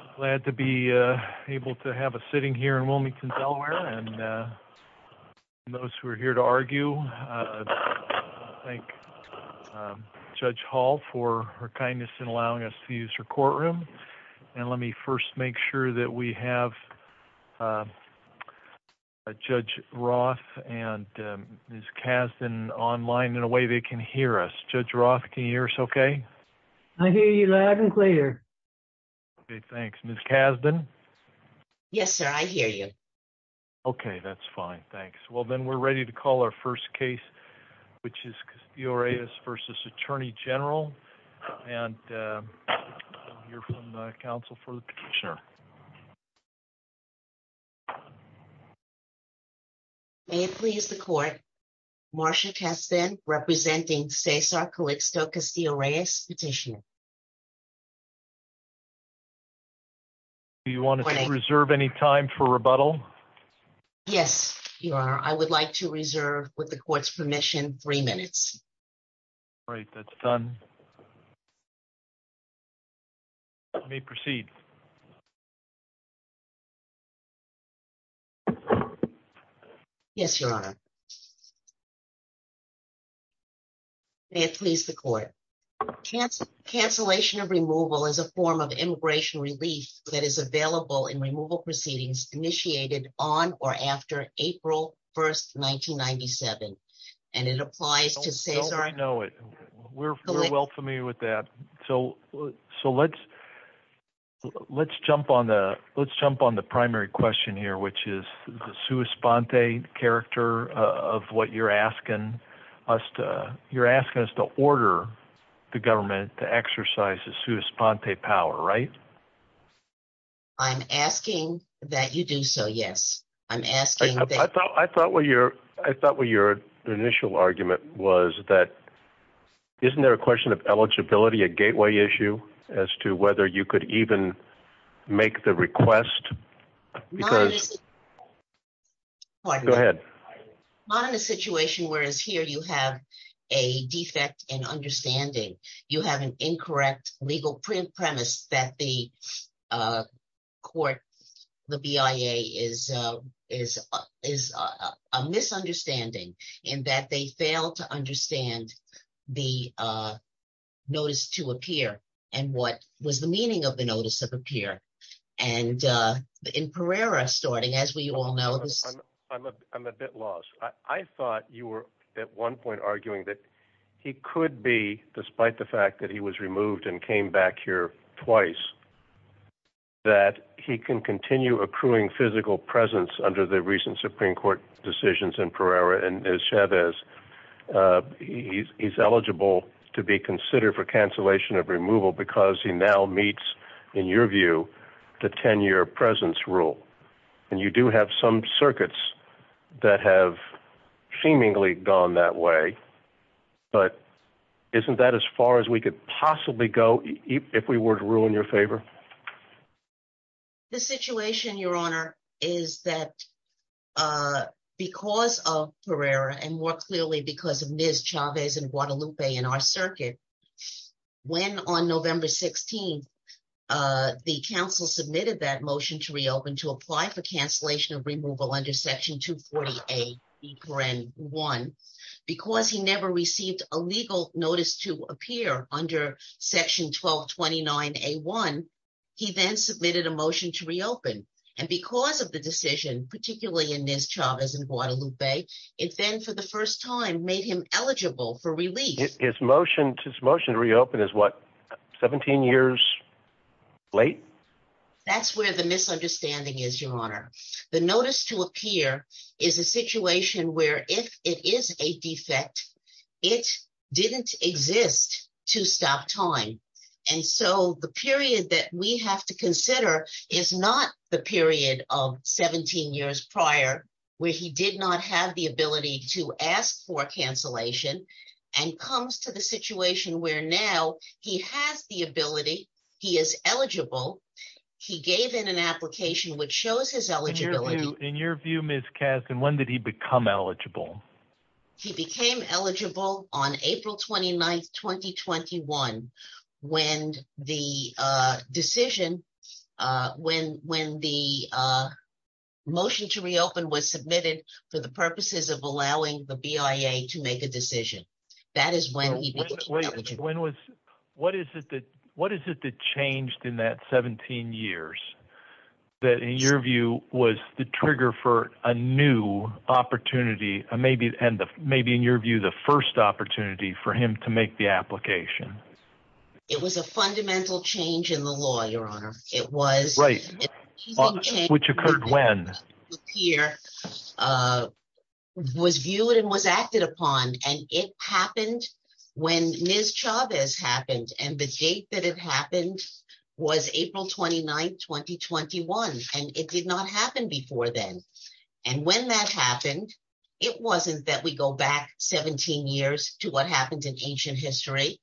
I'm glad to be able to have a sitting here in Wilmington, Delaware, and for those who are here to argue, I thank Judge Hall for her kindness in allowing us to use her courtroom, and let me first make sure that we have Judge Roth and Ms. Kasdan online in a way they can hear us. Judge Roth, can you hear us okay? I hear you loud and clear. Okay, thanks. Ms. Kasdan? Yes, sir. I hear you. Okay, that's fine. Thanks. Well, then we're ready to call our first case, which is Castillo-Reyes v. Attorney General, and we'll hear from the counsel for the petitioner. May it please the court, Marcia Kasdan representing Cesar Calixto-Castillo-Reyes petitioner. Do you want to reserve any time for rebuttal? Yes, Your Honor. I would like to reserve, with the court's permission, three minutes. All right, that's done. You may proceed. Yes, Your Honor. May it please the court. Cancellation of removal is a form of immigration relief that is available in removal proceedings initiated on or after April 1, 1997, and it applies to Cesar Calixto-Castillo-Reyes. We're well familiar with that. So let's jump on the primary question here, which is the sua sponte character of what you're asking us to order the government to exercise the sua sponte power, right? I'm asking that you do so, yes. I thought what your initial argument was that isn't there a question of eligibility, a gateway issue as to whether you could even make the request? Go ahead. Not in a situation where, as here, you have a defect in understanding. You have an incorrect legal premise that the court, the BIA, is a misunderstanding in that they fail to understand the notice to appear and what was the meaning of the notice of appear. And in Pereira starting, as we all know. I'm a bit lost. I thought you were at one point arguing that he could be, despite the fact that he was removed and came back here twice, that he can continue accruing physical presence under the recent Supreme Court decisions in Pereira. And as Chavez, he's eligible to be considered for cancellation of removal because he now meets, in your view, the 10-year presence rule. And you do have some circuits that have seemingly gone that way. But isn't that as far as we could possibly go if we were to rule in your favor? The situation, Your Honor, is that because of Pereira and more clearly because of Ms. Chavez and Guadalupe in our circuit. When on November 16th, the counsel submitted that motion to reopen to apply for cancellation of removal under Section 248B1. Because he never received a legal notice to appear under Section 1229A1, he then submitted a motion to reopen. And because of the decision, particularly in Ms. Chavez and Guadalupe, it then for the first time made him eligible for release. His motion to reopen is what, 17 years late? That's where the misunderstanding is, Your Honor. The notice to appear is a situation where if it is a defect, it didn't exist to stop time. And so the period that we have to consider is not the period of 17 years prior where he did not have the ability to ask for cancellation and comes to the situation where now he has the ability. He is eligible. He gave in an application which shows his eligibility. In your view, Ms. Kasdan, when did he become eligible? He became eligible on April 29th, 2021, when the decision, when the motion to reopen was submitted for the purposes of allowing the BIA to make a decision. That is when he became eligible. What is it that changed in that 17 years that in your view was the trigger for a new opportunity and maybe in your view the first opportunity for him to make the application? It was a fundamental change in the law, Your Honor. Right. Which occurred when? Here was viewed and was acted upon, and it happened when Ms. Chavez happened and the date that it happened was April 29th, 2021, and it did not happen before then. And when that happened, it wasn't that we go back 17 years to what happened in ancient history.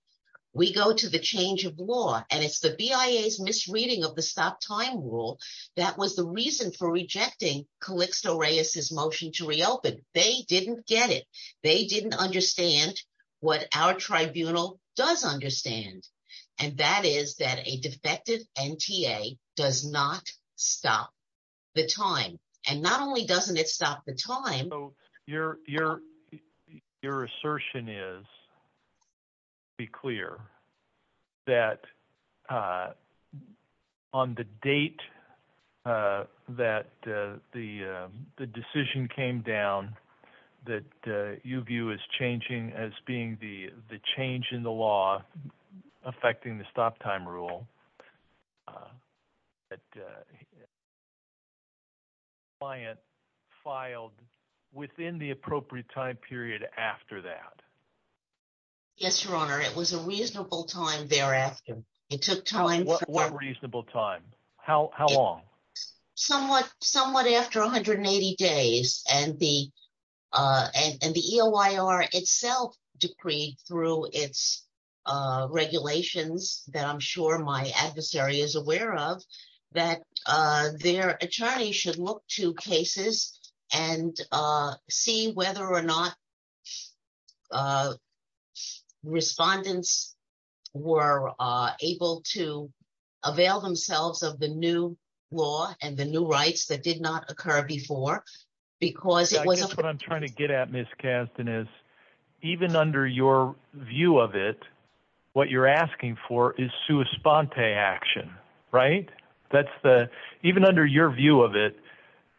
We go to the change of law, and it's the BIA's misreading of the stop time rule that was the reason for rejecting Calyxte Oreas' motion to reopen. They didn't get it. They didn't understand what our tribunal does understand, and that is that a defective NTA does not stop the time. And not only doesn't it stop the time. So your assertion is to be clear that on the date that the decision came down that you view as changing as being the change in the law affecting the stop time rule, the client filed within the appropriate time period after that. Yes, Your Honor. It was a reasonable time thereafter. It took time. What reasonable time? How long? Somewhat after 180 days, and the EOIR itself decreed through its regulations that I'm sure my adversary is aware of that their attorney should look to cases and see whether or not respondents were able to avail themselves of the new law and the new rights that did not occur before. Because it was... I guess what I'm trying to get at, Ms. Kasdan, is even under your view of it, what you're asking for is sua sponte action, right? Even under your view of it,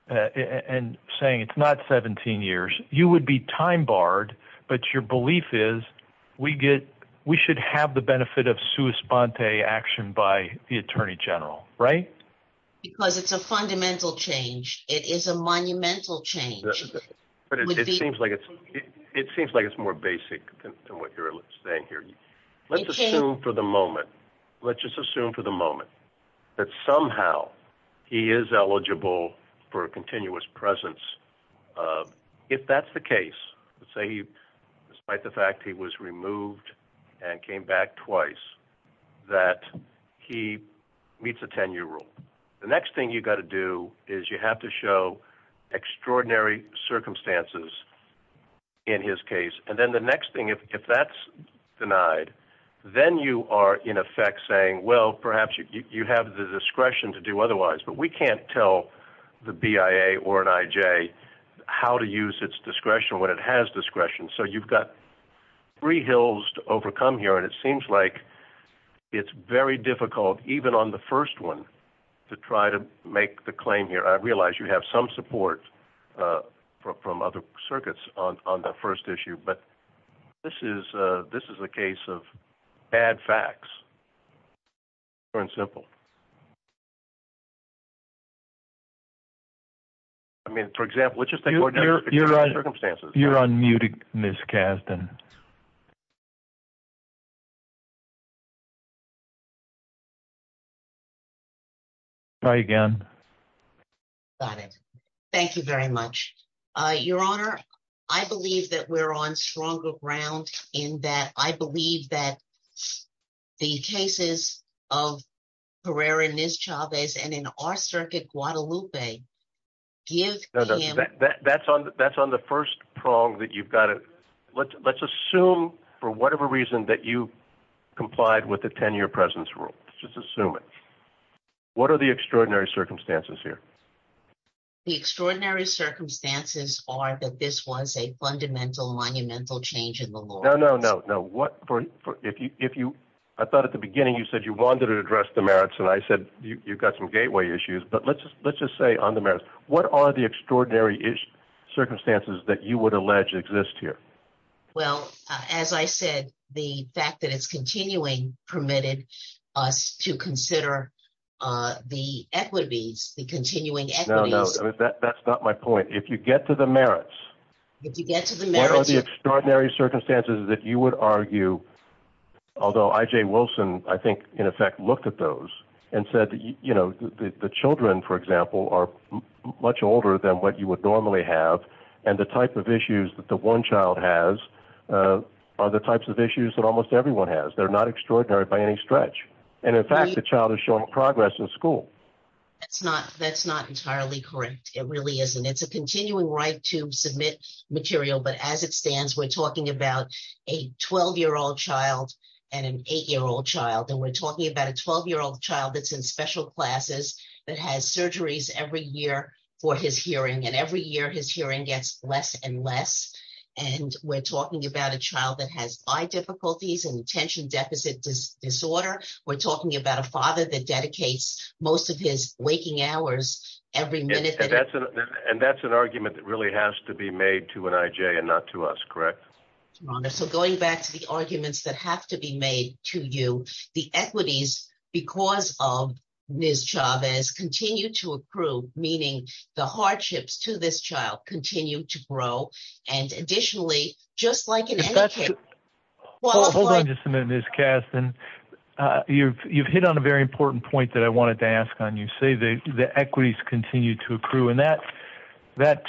and saying it's not 17 years, you would be time barred, but your belief is we should have the benefit of sua sponte action by the attorney general, right? Because it's a fundamental change. It is a monumental change. It seems like it's more basic than what you're saying here. Let's assume for the moment, let's just assume for the moment that somehow he is eligible for a continuous presence. If that's the case, let's say despite the fact he was removed and came back twice, that he meets a 10-year rule, the next thing you've got to do is you have to show extraordinary circumstances in his case. And then the next thing, if that's denied, then you are in effect saying, well, perhaps you have the discretion to do otherwise, but we can't tell the BIA or an IJ how to use its discretion when it has discretion. So you've got three hills to overcome here, and it seems like it's very difficult, even on the first one, to try to make the claim here. I realize you have some support from other circuits on the first issue, but this is a case of bad facts. It's very simple. I mean, for example, it's just extraordinary circumstances. You're unmuting, Ms. Kasdan. Try again. Got it. Thank you very much. Your Honor, I believe that we're on stronger ground in that I believe that the cases of Herrera and Ms. Chavez and in our circuit, Guadalupe, give him – That's on the first prong that you've got to – let's assume for whatever reason that you complied with the 10-year presence rule. Let's just assume it. What are the extraordinary circumstances here? The extraordinary circumstances are that this was a fundamental, monumental change in the law. No, no, no. I thought at the beginning you said you wanted to address the merits, and I said you've got some gateway issues. But let's just say on the merits, what are the extraordinary circumstances that you would allege exist here? Well, as I said, the fact that it's continuing permitted us to consider the equities, the continuing equities. No, no. That's not my point. If you get to the merits – If you get to the merits – The extraordinary circumstances that you would argue – although I.J. Wilson, I think, in effect looked at those and said the children, for example, are much older than what you would normally have, and the type of issues that the one child has are the types of issues that almost everyone has. They're not extraordinary by any stretch. And in fact, the child is showing progress in school. That's not entirely correct. It really isn't. And it's a continuing right to submit material, but as it stands, we're talking about a 12-year-old child and an 8-year-old child, and we're talking about a 12-year-old child that's in special classes that has surgeries every year for his hearing, and every year his hearing gets less and less. And we're talking about a child that has eye difficulties and attention deficit disorder. We're talking about a father that dedicates most of his waking hours every minute. And that's an argument that really has to be made to an I.J. and not to us, correct? Your Honor, so going back to the arguments that have to be made to you, the equities, because of Ms. Chavez, continue to improve, meaning the hardships to this child continue to grow. And additionally, just like in any case – Hold on just a minute, Ms. Kasten. You've hit on a very important point that I wanted to ask on. You say the equities continue to accrue, and that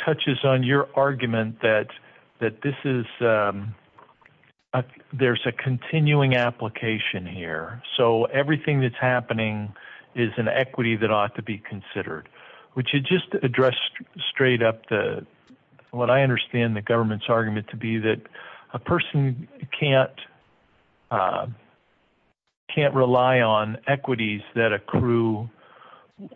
touches on your argument that this is – there's a continuing application here. So everything that's happening is an equity that ought to be considered. Would you just address straight up what I understand the government's argument to be, that a person can't rely on equities that accrue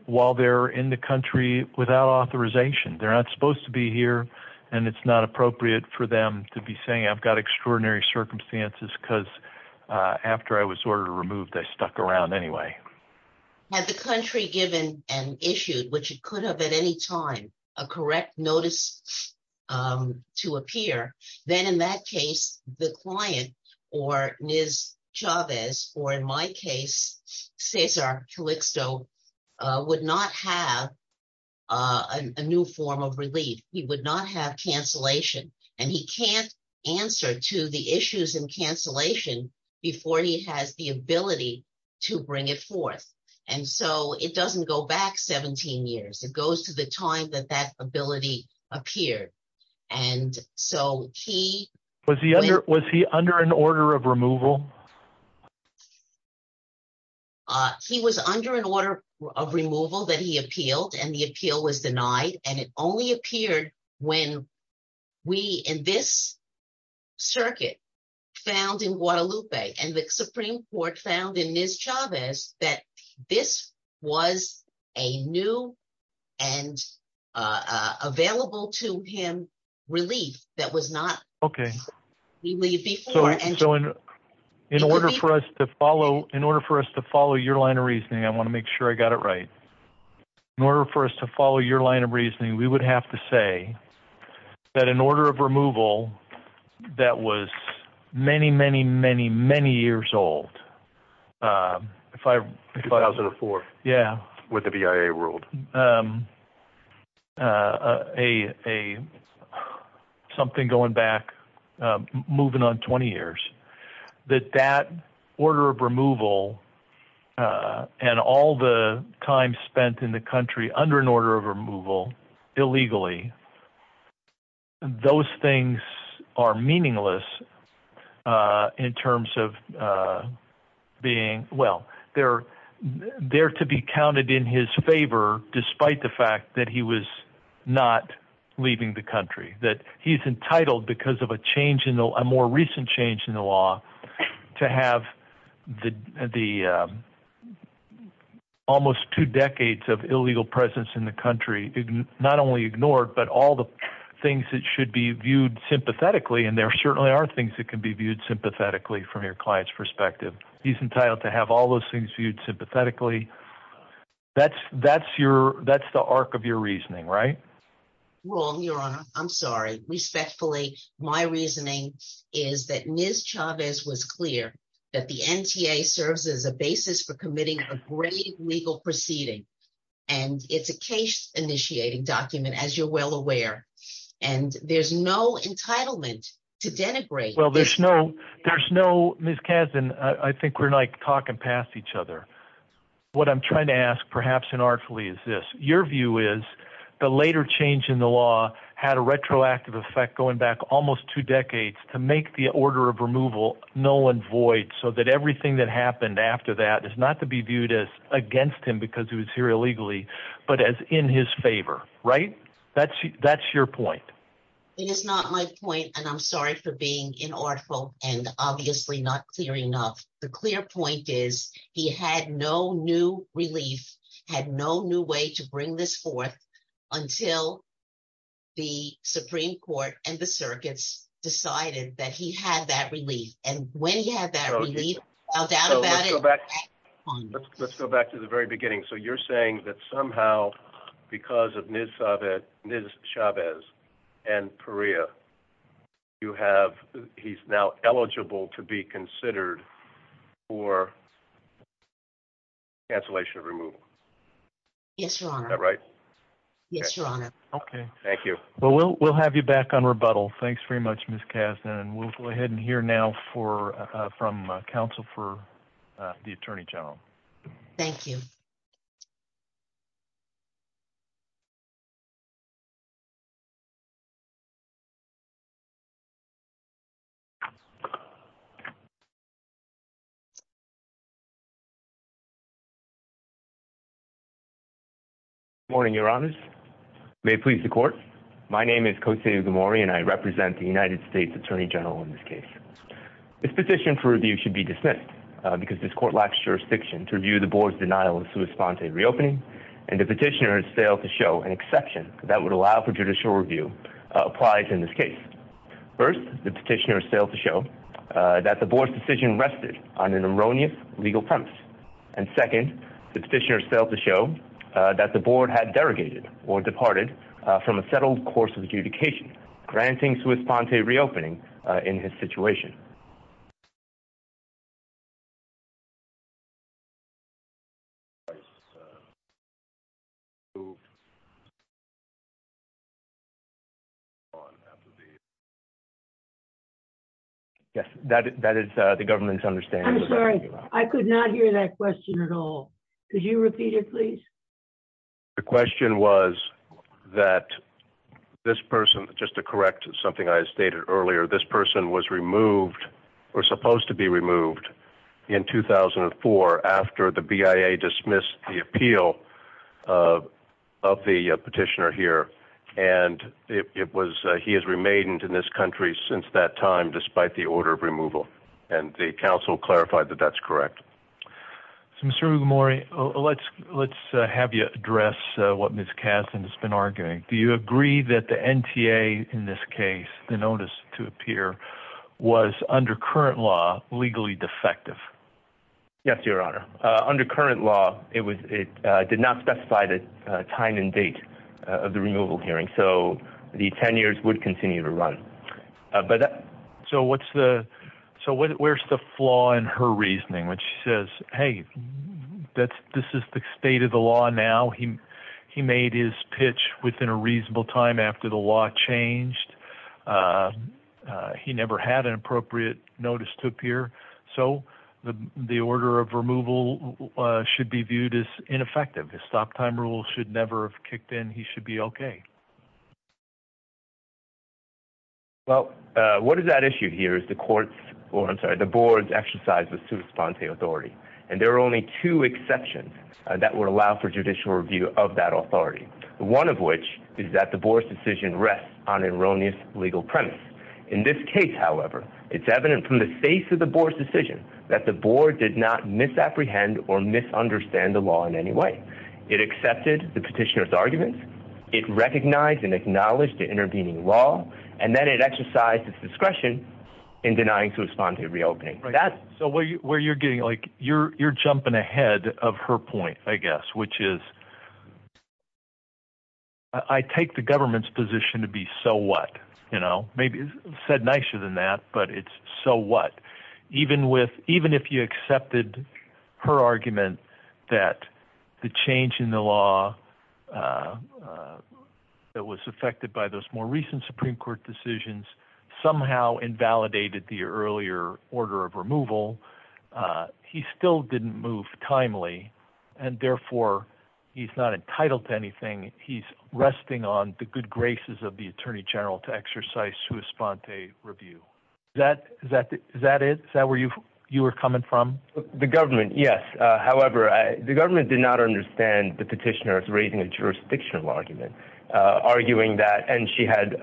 while they're in the country without authorization? They're not supposed to be here, and it's not appropriate for them to be saying, I've got extraordinary circumstances because after I was ordered to remove, they stuck around anyway. Had the country given and issued, which it could have at any time, a correct notice to appear, then in that case, the client, or Ms. Chavez, or in my case, Cesar Calixto, would not have a new form of relief. He would not have cancellation, and he can't answer to the issues in cancellation before he has the ability to bring it forth. And so it doesn't go back 17 years. It goes to the time that that ability appeared. And so he – Was he under an order of removal? He was under an order of removal that he appealed, and the appeal was denied, and it only appeared when we in this circuit found in Guadalupe and the Supreme Court found in Ms. Chavez that this was a new and available to him relief that was not – Okay. So in order for us to follow your line of reasoning, I want to make sure I got it right. In order for us to follow your line of reasoning, we would have to say that an order of removal that was many, many, many, many years old – 2004. Yeah. With the BIA ruled. Something going back, moving on 20 years, that that order of removal and all the time spent in the country under an order of removal illegally, those things are meaningless in terms of being – Despite the fact that he was not leaving the country, that he's entitled because of a change in – a more recent change in the law to have the almost two decades of illegal presence in the country not only ignored, but all the things that should be viewed sympathetically, and there certainly are things that can be viewed sympathetically from your client's perspective. He's entitled to have all those things viewed sympathetically. That's the arc of your reasoning, right? Wrong, Your Honor. I'm sorry. Respectfully, my reasoning is that Ms. Chavez was clear that the NTA serves as a basis for committing a grave legal proceeding, and it's a case-initiating document, as you're well aware, and there's no entitlement to denigrate – Well, there's no – there's no – Ms. Kazin, I think we're, like, talking past each other. What I'm trying to ask, perhaps inartfully, is this. Your view is the later change in the law had a retroactive effect going back almost two decades to make the order of removal null and void so that everything that happened after that is not to be viewed as against him because he was here illegally, but as in his favor, right? That's your point. It is not my point, and I'm sorry for being inartful and obviously not clear enough. The clear point is he had no new relief, had no new way to bring this forth until the Supreme Court and the circuits decided that he had that relief. And when he had that relief, I'll doubt about it. Let's go back to the very beginning. So you're saying that somehow because of Ms. Chavez and Perea, you have – he's now eligible to be considered for cancellation of removal? Yes, Your Honor. Is that right? Yes, Your Honor. Okay. Thank you. Well, we'll have you back on rebuttal. Thanks very much, Ms. Kasdan. And we'll go ahead and hear now from counsel for the Attorney General. Thank you. Good morning, Your Honors. May it please the Court. My name is Kosei Ugamori, and I represent the United States Attorney General in this case. This petition for review should be dismissed because this Court lacks jurisdiction to review the Board's denial of a sui sponte reopening, and the petitioner has failed to show an exception that would allow for judicial review applied in this case. First, the petitioner has failed to show that the Board's decision rested on an erroneous legal premise. And second, the petitioner has failed to show that the Board had derogated or departed from a settled course of adjudication, granting sui sponte reopening in his situation. Yes, that is the government's understanding. I'm sorry. I could not hear that question at all. Could you repeat it, please? The question was that this person, just to correct something I stated earlier, this person was removed or supposed to be removed in 2004 after the BIA dismissed the appeal of the petitioner here. And he has remained in this country since that time, despite the order of removal. And the counsel clarified that that's correct. Mr. Mugamori, let's have you address what Ms. Kasdan has been arguing. Do you agree that the NTA in this case, the notice to appear, was, under current law, legally defective? Yes, Your Honor. Under current law, it did not specify the time and date of the removal hearing, so the 10 years would continue to run. So where's the flaw in her reasoning when she says, hey, this is the state of the law now. He made his pitch within a reasonable time after the law changed. He never had an appropriate notice to appear. So the order of removal should be viewed as ineffective. His stop time rule should never have kicked in. He should be okay. Well, what is at issue here is the court's, or I'm sorry, the board's exercise of sui sponte authority. And there are only two exceptions that would allow for judicial review of that authority, one of which is that the board's decision rests on erroneous legal premise. In this case, however, it's evident from the face of the board's decision that the board did not misapprehend or misunderstand the law in any way. It accepted the petitioner's argument. It recognized and acknowledged the intervening law. And then it exercised its discretion in denying sui sponte reopening. So where you're getting, like, you're jumping ahead of her point, I guess, which is I take the government's position to be so what? You know, maybe said nicer than that, but it's so what? Even if you accepted her argument that the change in the law that was affected by those more recent Supreme Court decisions somehow invalidated the earlier order of removal, he still didn't move timely. And therefore, he's not entitled to anything. He's resting on the good graces of the attorney general to exercise sui sponte review. That that is that where you you were coming from the government. Yes. However, the government did not understand the petitioner's raising a jurisdictional argument, arguing that and she had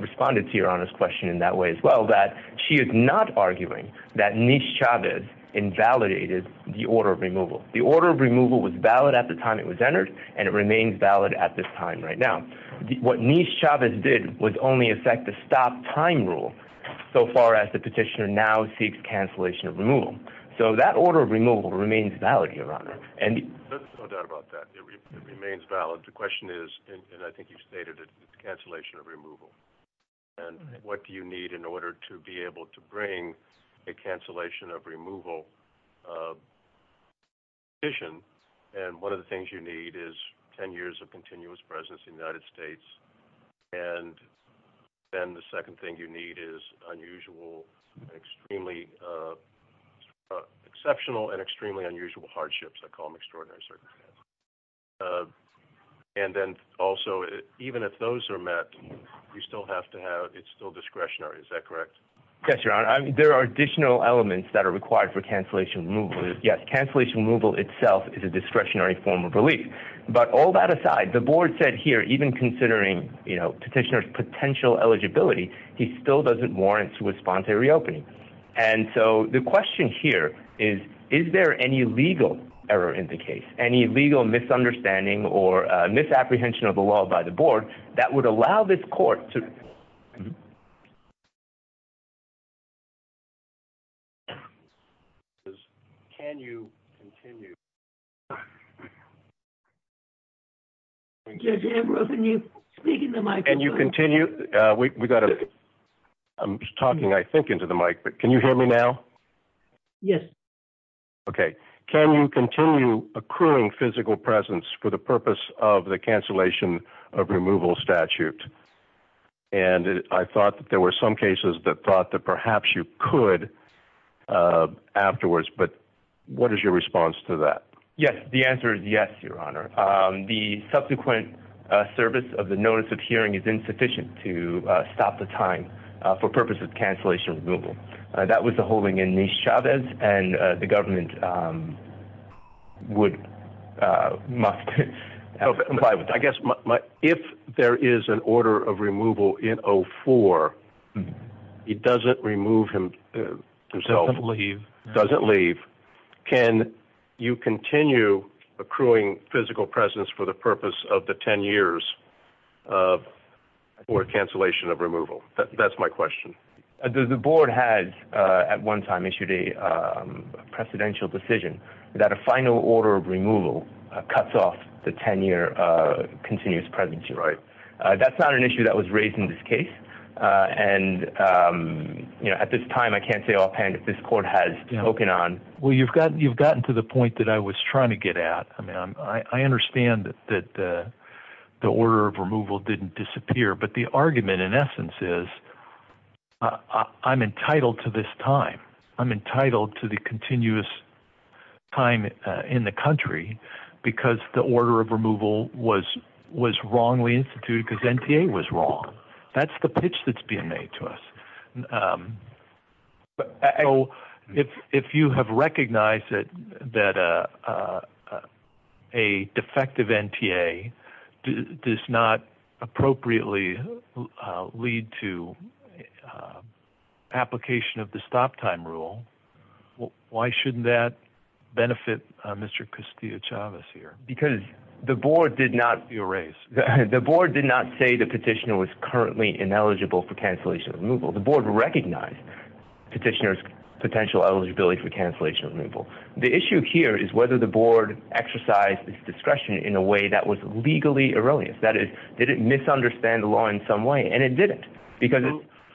responded to your honest question in that way as well, that she is not arguing that Nish Chavez invalidated the order of removal. The order of removal was valid at the time it was entered, and it remains valid at this time right now. What Nish Chavez did was only affect the stop time rule so far as the petitioner now seeks cancellation of removal. So that order of removal remains valid here on it. And there's no doubt about that. It remains valid. The question is, and I think you stated it, the cancellation of removal. And what do you need in order to be able to bring a cancellation of removal? And one of the things you need is 10 years of continuous presence in the United States. And then the second thing you need is unusual, extremely exceptional and extremely unusual hardships. I call them extraordinary circumstances. And then also, even if those are met, you still have to have it's still discretionary. Is that correct? Yes, Your Honor. There are additional elements that are required for cancellation of removal. Yes, cancellation of removal itself is a discretionary form of relief. But all that aside, the board said here, even considering petitioner's potential eligibility, he still doesn't warrant to respond to a reopening. And so the question here is, is there any legal error in the case? Any legal misunderstanding or misapprehension of the law by the board that would allow this court to? Can you continue? Can you speak into the mic? Can you continue? We got it. I'm talking, I think, into the mic, but can you hear me now? Yes. Okay. Can you continue accruing physical presence for the purpose of the cancellation of removal statute? And I thought that there were some cases that thought that perhaps you could afterwards. But what is your response to that? Yes. The answer is yes, Your Honor. The subsequent service of the notice of hearing is insufficient to stop the time for purposes of cancellation of removal. That was the holding in Nis Chavez. And the government would, must comply with that. I guess if there is an order of removal in 04, he doesn't remove himself. Doesn't leave. Doesn't leave. Can you continue accruing physical presence for the purpose of the 10 years for cancellation of removal? That's my question. The board has at one time issued a precedential decision that a final order of removal cuts off the 10-year continuous presence. That's not an issue that was raised in this case. And at this time, I can't say offhand if this court has spoken on. Well, you've gotten to the point that I was trying to get at. I understand that the order of removal didn't disappear. But the argument, in essence, is I'm entitled to this time. I'm entitled to the continuous time in the country because the order of removal was wrongly instituted because NTA was wrong. That's the pitch that's being made to us. So if you have recognized that a defective NTA does not appropriately lead to application of the stop time rule, why shouldn't that benefit Mr. Castillo-Chavez here? Because the board did not. You're right. The board did not say the petitioner was currently ineligible for cancellation of removal. The board recognized petitioner's potential eligibility for cancellation of removal. The issue here is whether the board exercised its discretion in a way that was legally erroneous. That is, did it misunderstand the law in some way? And it didn't.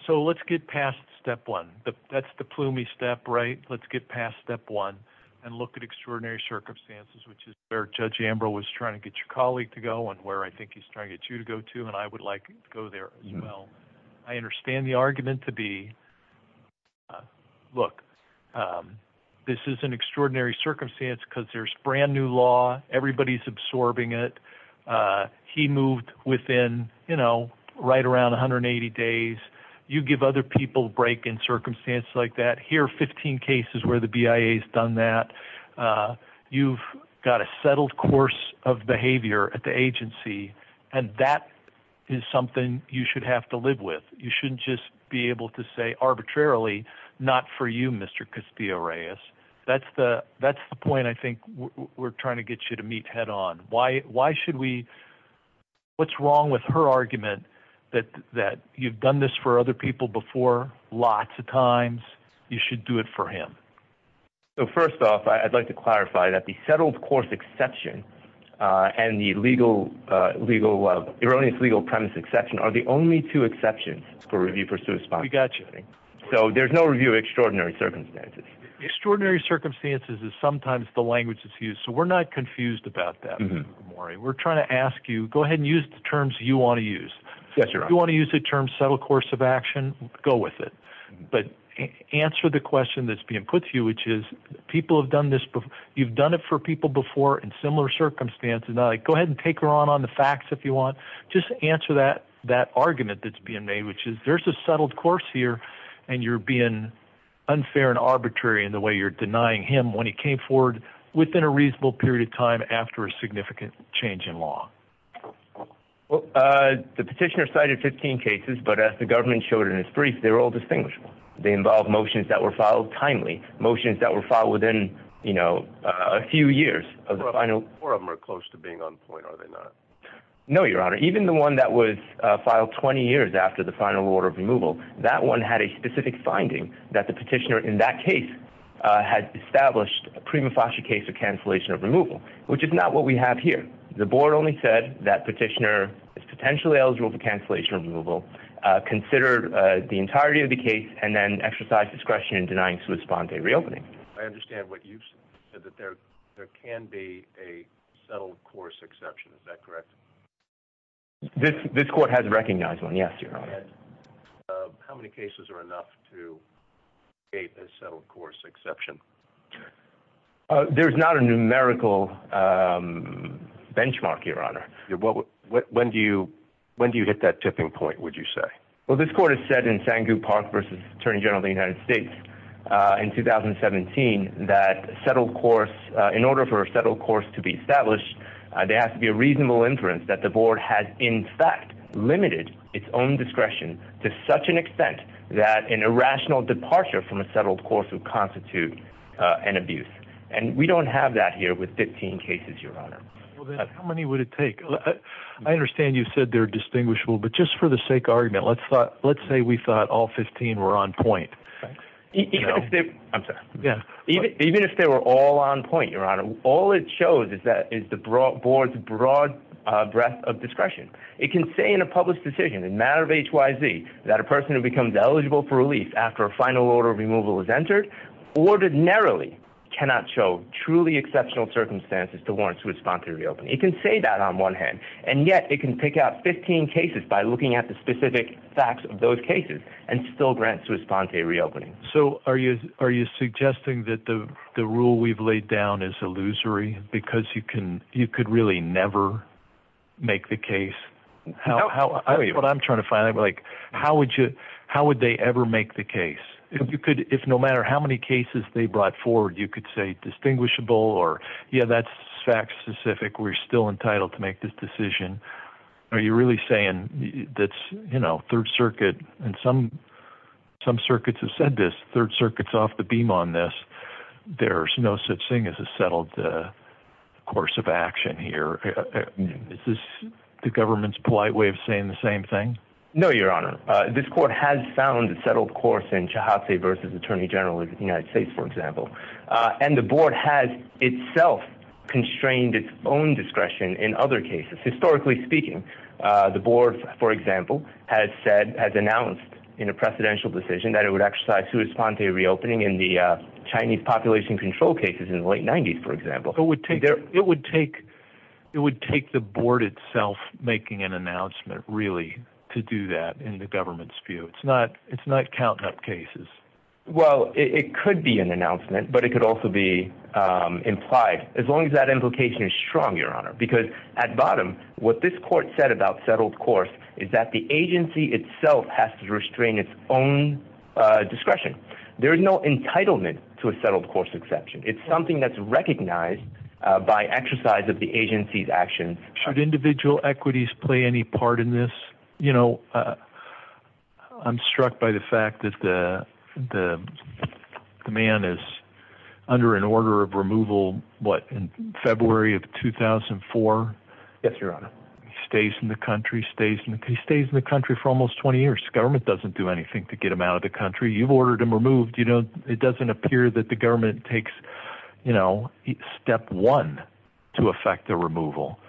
So let's get past step one. That's the plumey step, right? Let's get past step one and look at extraordinary circumstances, which is where Judge Ambrose was trying to get your colleague to go and where I think he's trying to get you to go to. And I would like you to go there as well. I understand the argument to be, look, this is an extraordinary circumstance because there's brand-new law. Everybody's absorbing it. He moved within, you know, right around 180 days. You give other people a break in circumstances like that. Here are 15 cases where the BIA has done that. You've got a settled course of behavior at the agency, and that is something you should have to live with. You shouldn't just be able to say arbitrarily, not for you, Mr. Castillo-Reyes. That's the point I think we're trying to get you to meet head on. Why should we ‑‑ what's wrong with her argument that you've done this for other people before lots of times? You should do it for him. So first off, I'd like to clarify that the settled course exception and the legal ‑‑ erroneous legal premise exception are the only two exceptions for review, pursuit, and spying. We got you. So there's no review of extraordinary circumstances. Extraordinary circumstances is sometimes the language that's used, so we're not confused about that. We're trying to ask you, go ahead and use the terms you want to use. Yes, Your Honor. If you want to use the term settled course of action, go with it. But answer the question that's being put to you, which is people have done this before. You've done it for people before in similar circumstances. Go ahead and take her on on the facts if you want. Just answer that argument that's being made, which is there's a settled course here, and you're being unfair and arbitrary in the way you're denying him when he came forward within a reasonable period of time after a significant change in law. The petitioner cited 15 cases, but as the government showed in its brief, they're all distinguishable. They involve motions that were filed timely, motions that were filed within, you know, a few years. Four of them are close to being on point, are they not? No, Your Honor. Even the one that was filed 20 years after the final order of removal, that one had a specific finding that the petitioner in that case had established a prima facie case of cancellation of removal, which is not what we have here. The board only said that petitioner is potentially eligible for cancellation removal. Consider the entirety of the case and then exercise discretion in denying Swiss bond day reopening. I understand what you've said, that there can be a settled course exception. Is that correct? This court has recognized one. Yes, Your Honor. How many cases are enough to create a settled course exception? There's not a numerical benchmark, Your Honor. When do you hit that tipping point, would you say? Well, this court has said in Sangu Park v. Attorney General of the United States in 2017 that settled course, in order for a settled course to be established, there has to be a reasonable inference that the board has, in fact, limited its own discretion to such an extent that an irrational departure from a settled course would constitute an abuse. And we don't have that here with 15 cases, Your Honor. How many would it take? I understand you said they're distinguishable, but just for the sake of argument, let's say we thought all 15 were on point. Even if they were all on point, Your Honor, all it shows is the board's broad breadth of discretion. It can say in a public decision, in a matter of HYZ, that a person who becomes eligible for relief after a final order of removal is entered, ordinarily cannot show truly exceptional circumstances to warrant Swiss Ponte reopening. It can say that on one hand, and yet it can pick out 15 cases by looking at the specific facts of those cases and still grant Swiss Ponte reopening. So are you suggesting that the rule we've laid down is illusory because you could really never make the case? What I'm trying to find out, how would they ever make the case? If no matter how many cases they brought forward, you could say distinguishable or, yeah, that's fact specific. We're still entitled to make this decision. Are you really saying that, you know, Third Circuit and some circuits have said this, Third Circuit's off the beam on this. There's no such thing as a settled course of action here. Is this the government's polite way of saying the same thing? No, Your Honor. This court has found a settled course in Chahate v. Attorney General of the United States, for example. And the board has itself constrained its own discretion in other cases. Historically speaking, the board, for example, has announced in a precedential decision that it would exercise Swiss Ponte reopening in the Chinese population control cases in the late 90s, for example. It would take the board itself making an announcement, really, to do that in the government's view. It's not counting up cases. Well, it could be an announcement, but it could also be implied, as long as that implication is strong, Your Honor. Because at bottom, what this court said about settled course is that the agency itself has to restrain its own discretion. There is no entitlement to a settled course exception. It's something that's recognized by exercise of the agency's action. Should individual equities play any part in this? I'm struck by the fact that the man is under an order of removal, what, in February of 2004? Yes, Your Honor. He stays in the country. He stays in the country for almost 20 years. The government doesn't do anything to get him out of the country. You've ordered him removed. It doesn't appear that the government takes step one to effect the removal.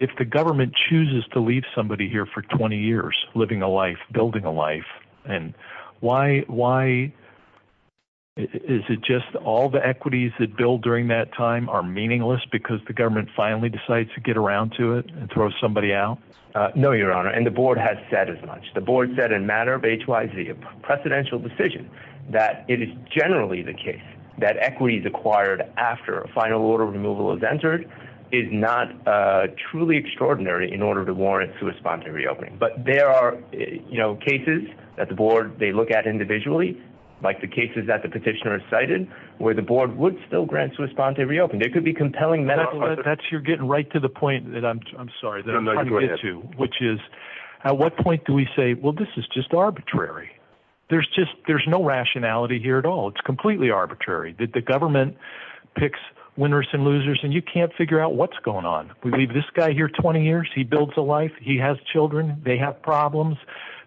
If the government chooses to leave somebody here for 20 years, living a life, building a life, is it just all the equities that build during that time are meaningless because the government finally decides to get around to it and throw somebody out? No, Your Honor. And the board has said as much. The board said in a matter of H-Y-Z, a precedential decision, that it is generally the case that equities acquired after a final order of removal is entered is not truly extraordinary in order to warrant a response to a reopening. But there are cases that the board, they look at individually, like the cases that the petitioner cited, where the board would still grant to respond to a reopening. It could be compelling medical. You're getting right to the point that I'm sorry, which is at what point do we say, well, this is just arbitrary. There's just there's no rationality here at all. It's completely arbitrary that the government picks winners and losers and you can't figure out what's going on. We leave this guy here 20 years. He builds a life. He has children. They have problems.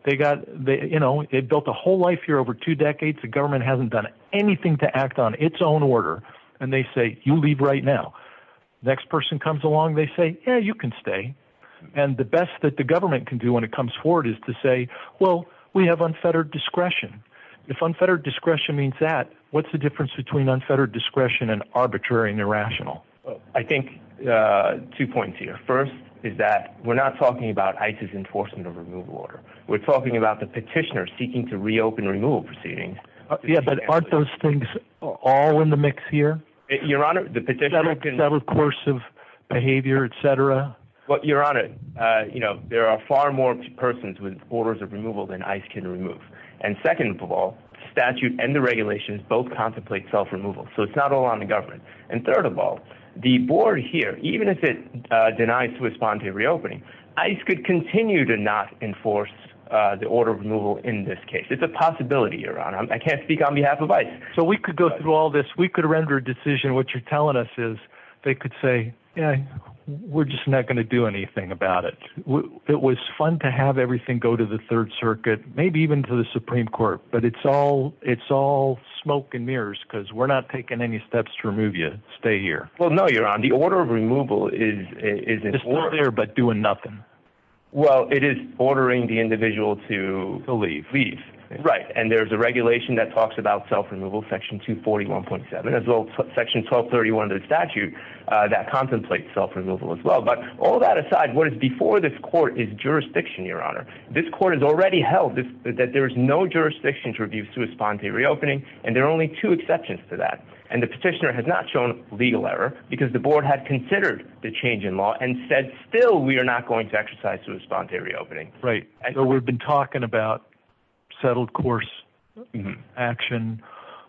They got, you know, they built a whole life here over two decades. The government hasn't done anything to act on its own order. And they say, you leave right now. Next person comes along. They say, yeah, you can stay. And the best that the government can do when it comes forward is to say, well, we have unfettered discretion. If unfettered discretion means that, what's the difference between unfettered discretion and arbitrary and irrational? I think two points here. First is that we're not talking about ICE's enforcement of removal order. We're talking about the petitioner seeking to reopen removal proceedings. Yeah, but aren't those things all in the mix here? Your Honor, the petitioner can. Several courses of behavior, et cetera. But, Your Honor, you know, there are far more persons with orders of removal than ICE can remove. And second of all, statute and the regulations both contemplate self-removal. So it's not all on the government. And third of all, the board here, even if it denies to respond to reopening, ICE could continue to not enforce the order of removal in this case. It's a possibility, Your Honor. I can't speak on behalf of ICE. So we could go through all this. We could render a decision. What you're telling us is they could say, yeah, we're just not going to do anything about it. It was fun to have everything go to the Third Circuit, maybe even to the Supreme Court. But it's all smoke and mirrors because we're not taking any steps to remove you. Stay here. Well, no, Your Honor. The order of removal is in order but doing nothing. Well, it is ordering the individual to leave. Right. And there's a regulation that talks about self-removal, Section 241.7, as well as Section 1231 of the statute that contemplates self-removal as well. But all that aside, what is before this court is jurisdiction, Your Honor. This court has already held that there is no jurisdiction to refuse to respond to reopening. And there are only two exceptions to that. And the petitioner has not shown legal error because the board had considered the change in law and said, still, we are not going to exercise to respond to reopening. Right. We've been talking about settled course action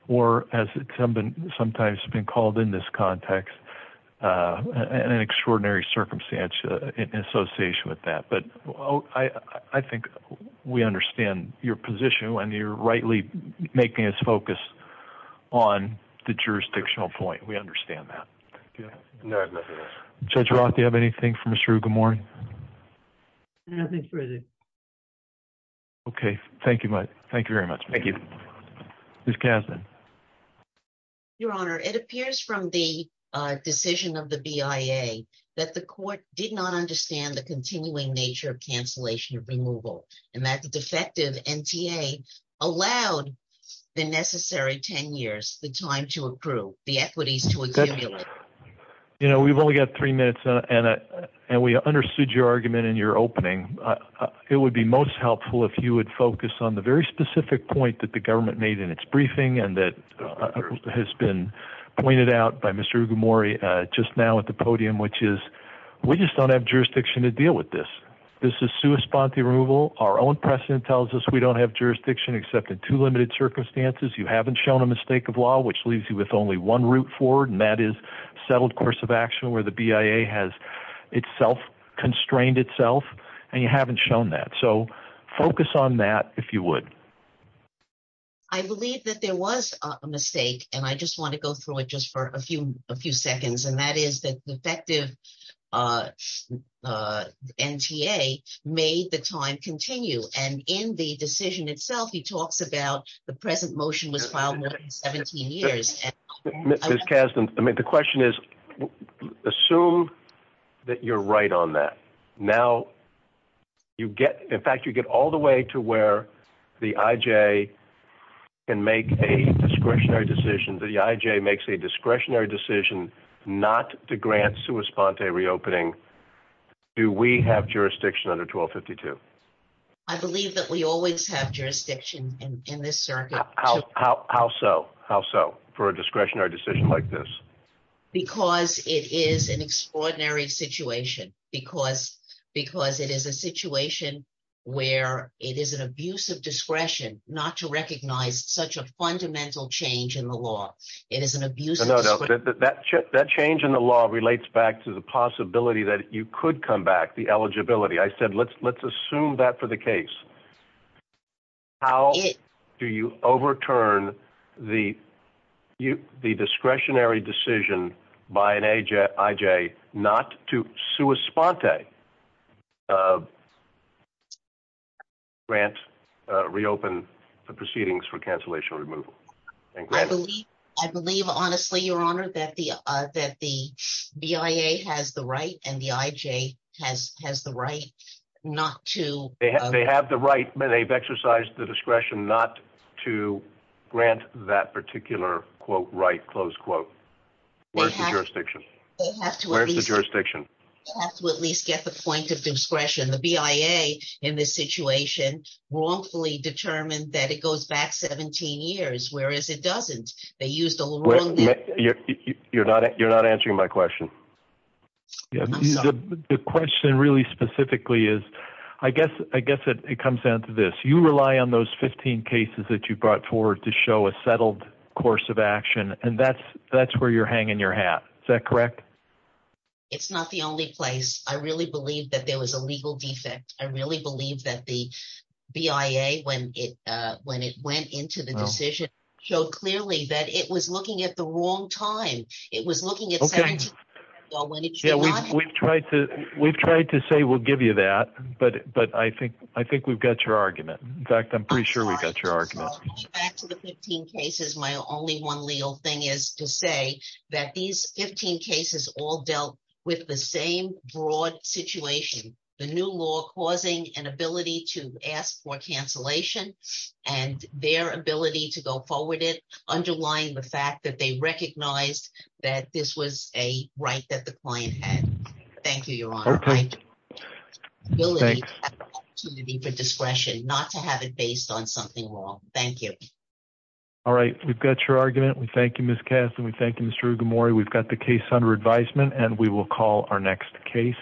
or, as it's sometimes been called in this context, an extraordinary circumstance in association with that. But I think we understand your position when you're rightly making us focus on the jurisdictional point. We understand that. Judge Roth, do you have anything for Mr. Ugamorin? Nothing further. Okay. Thank you. Thank you very much. Thank you. Ms. Kasdan. Your Honor, it appears from the decision of the BIA that the court did not understand the continuing nature of cancellation of removal and that the defective NTA allowed the necessary 10 years, the time to approve, the equities to accumulate. You know, we've only got three minutes, and we understood your argument in your opening. It would be most helpful if you would focus on the very specific point that the government made in its briefing and that has been pointed out by Mr. Ugamorin just now at the podium, which is we just don't have jurisdiction to deal with this. This is sua sponte removal. Our own precedent tells us we don't have jurisdiction except in two limited circumstances. You haven't shown a mistake of law, which leaves you with only one route forward, and that is settled course of action where the BIA has itself constrained itself, and you haven't shown that. So focus on that, if you would. I believe that there was a mistake, and I just want to go through it just for a few seconds, and that is that the defective NTA made the time continue. And in the decision itself, he talks about the present motion was filed more than 17 years. Ms. Kasdan, the question is, assume that you're right on that. Now, in fact, you get all the way to where the IJ can make a discretionary decision. The IJ makes a discretionary decision not to grant sua sponte reopening. Do we have jurisdiction under 1252? I believe that we always have jurisdiction in this circuit. How so? How so for a discretionary decision like this? Because it is an extraordinary situation, because it is a situation where it is an abuse of discretion not to recognize such a fundamental change in the law. It is an abuse of discretion. That change in the law relates back to the possibility that you could come back, the eligibility. I said let's assume that for the case. How do you overturn the discretionary decision by an IJ not to sua sponte grant reopen the proceedings for cancellation removal? I believe honestly, Your Honor, that the BIA has the right and the IJ has the right not to. They have the right. They've exercised the discretion not to grant that particular, quote, right, close quote. Where's the jurisdiction? Where's the jurisdiction? They have to at least get the point of discretion. The BIA in this situation wrongfully determined that it goes back 17 years, whereas it doesn't. They used a little wrong. You're not answering my question. The question really specifically is I guess it comes down to this. You rely on those 15 cases that you brought forward to show a settled course of action, and that's where you're hanging your hat. Is that correct? It's not the only place. I really believe that there was a legal defect. I really believe that the BIA, when it went into the decision, showed clearly that it was looking at the wrong time. We've tried to say we'll give you that, but I think we've got your argument. In fact, I'm pretty sure we've got your argument. Going back to the 15 cases, my only one legal thing is to say that these 15 cases all dealt with the same broad situation, the new law causing an ability to ask for cancellation and their ability to go forward it, underlying the fact that they recognized that this was a right that the client had. Thank you, Your Honor. Okay. The ability to have the opportunity for discretion, not to have it based on something wrong. Thank you. All right. We've got your argument. We thank you, Ms. Cassidy. We thank you, Mr. Ugamori. We've got the case under advisement, and we will call our next case.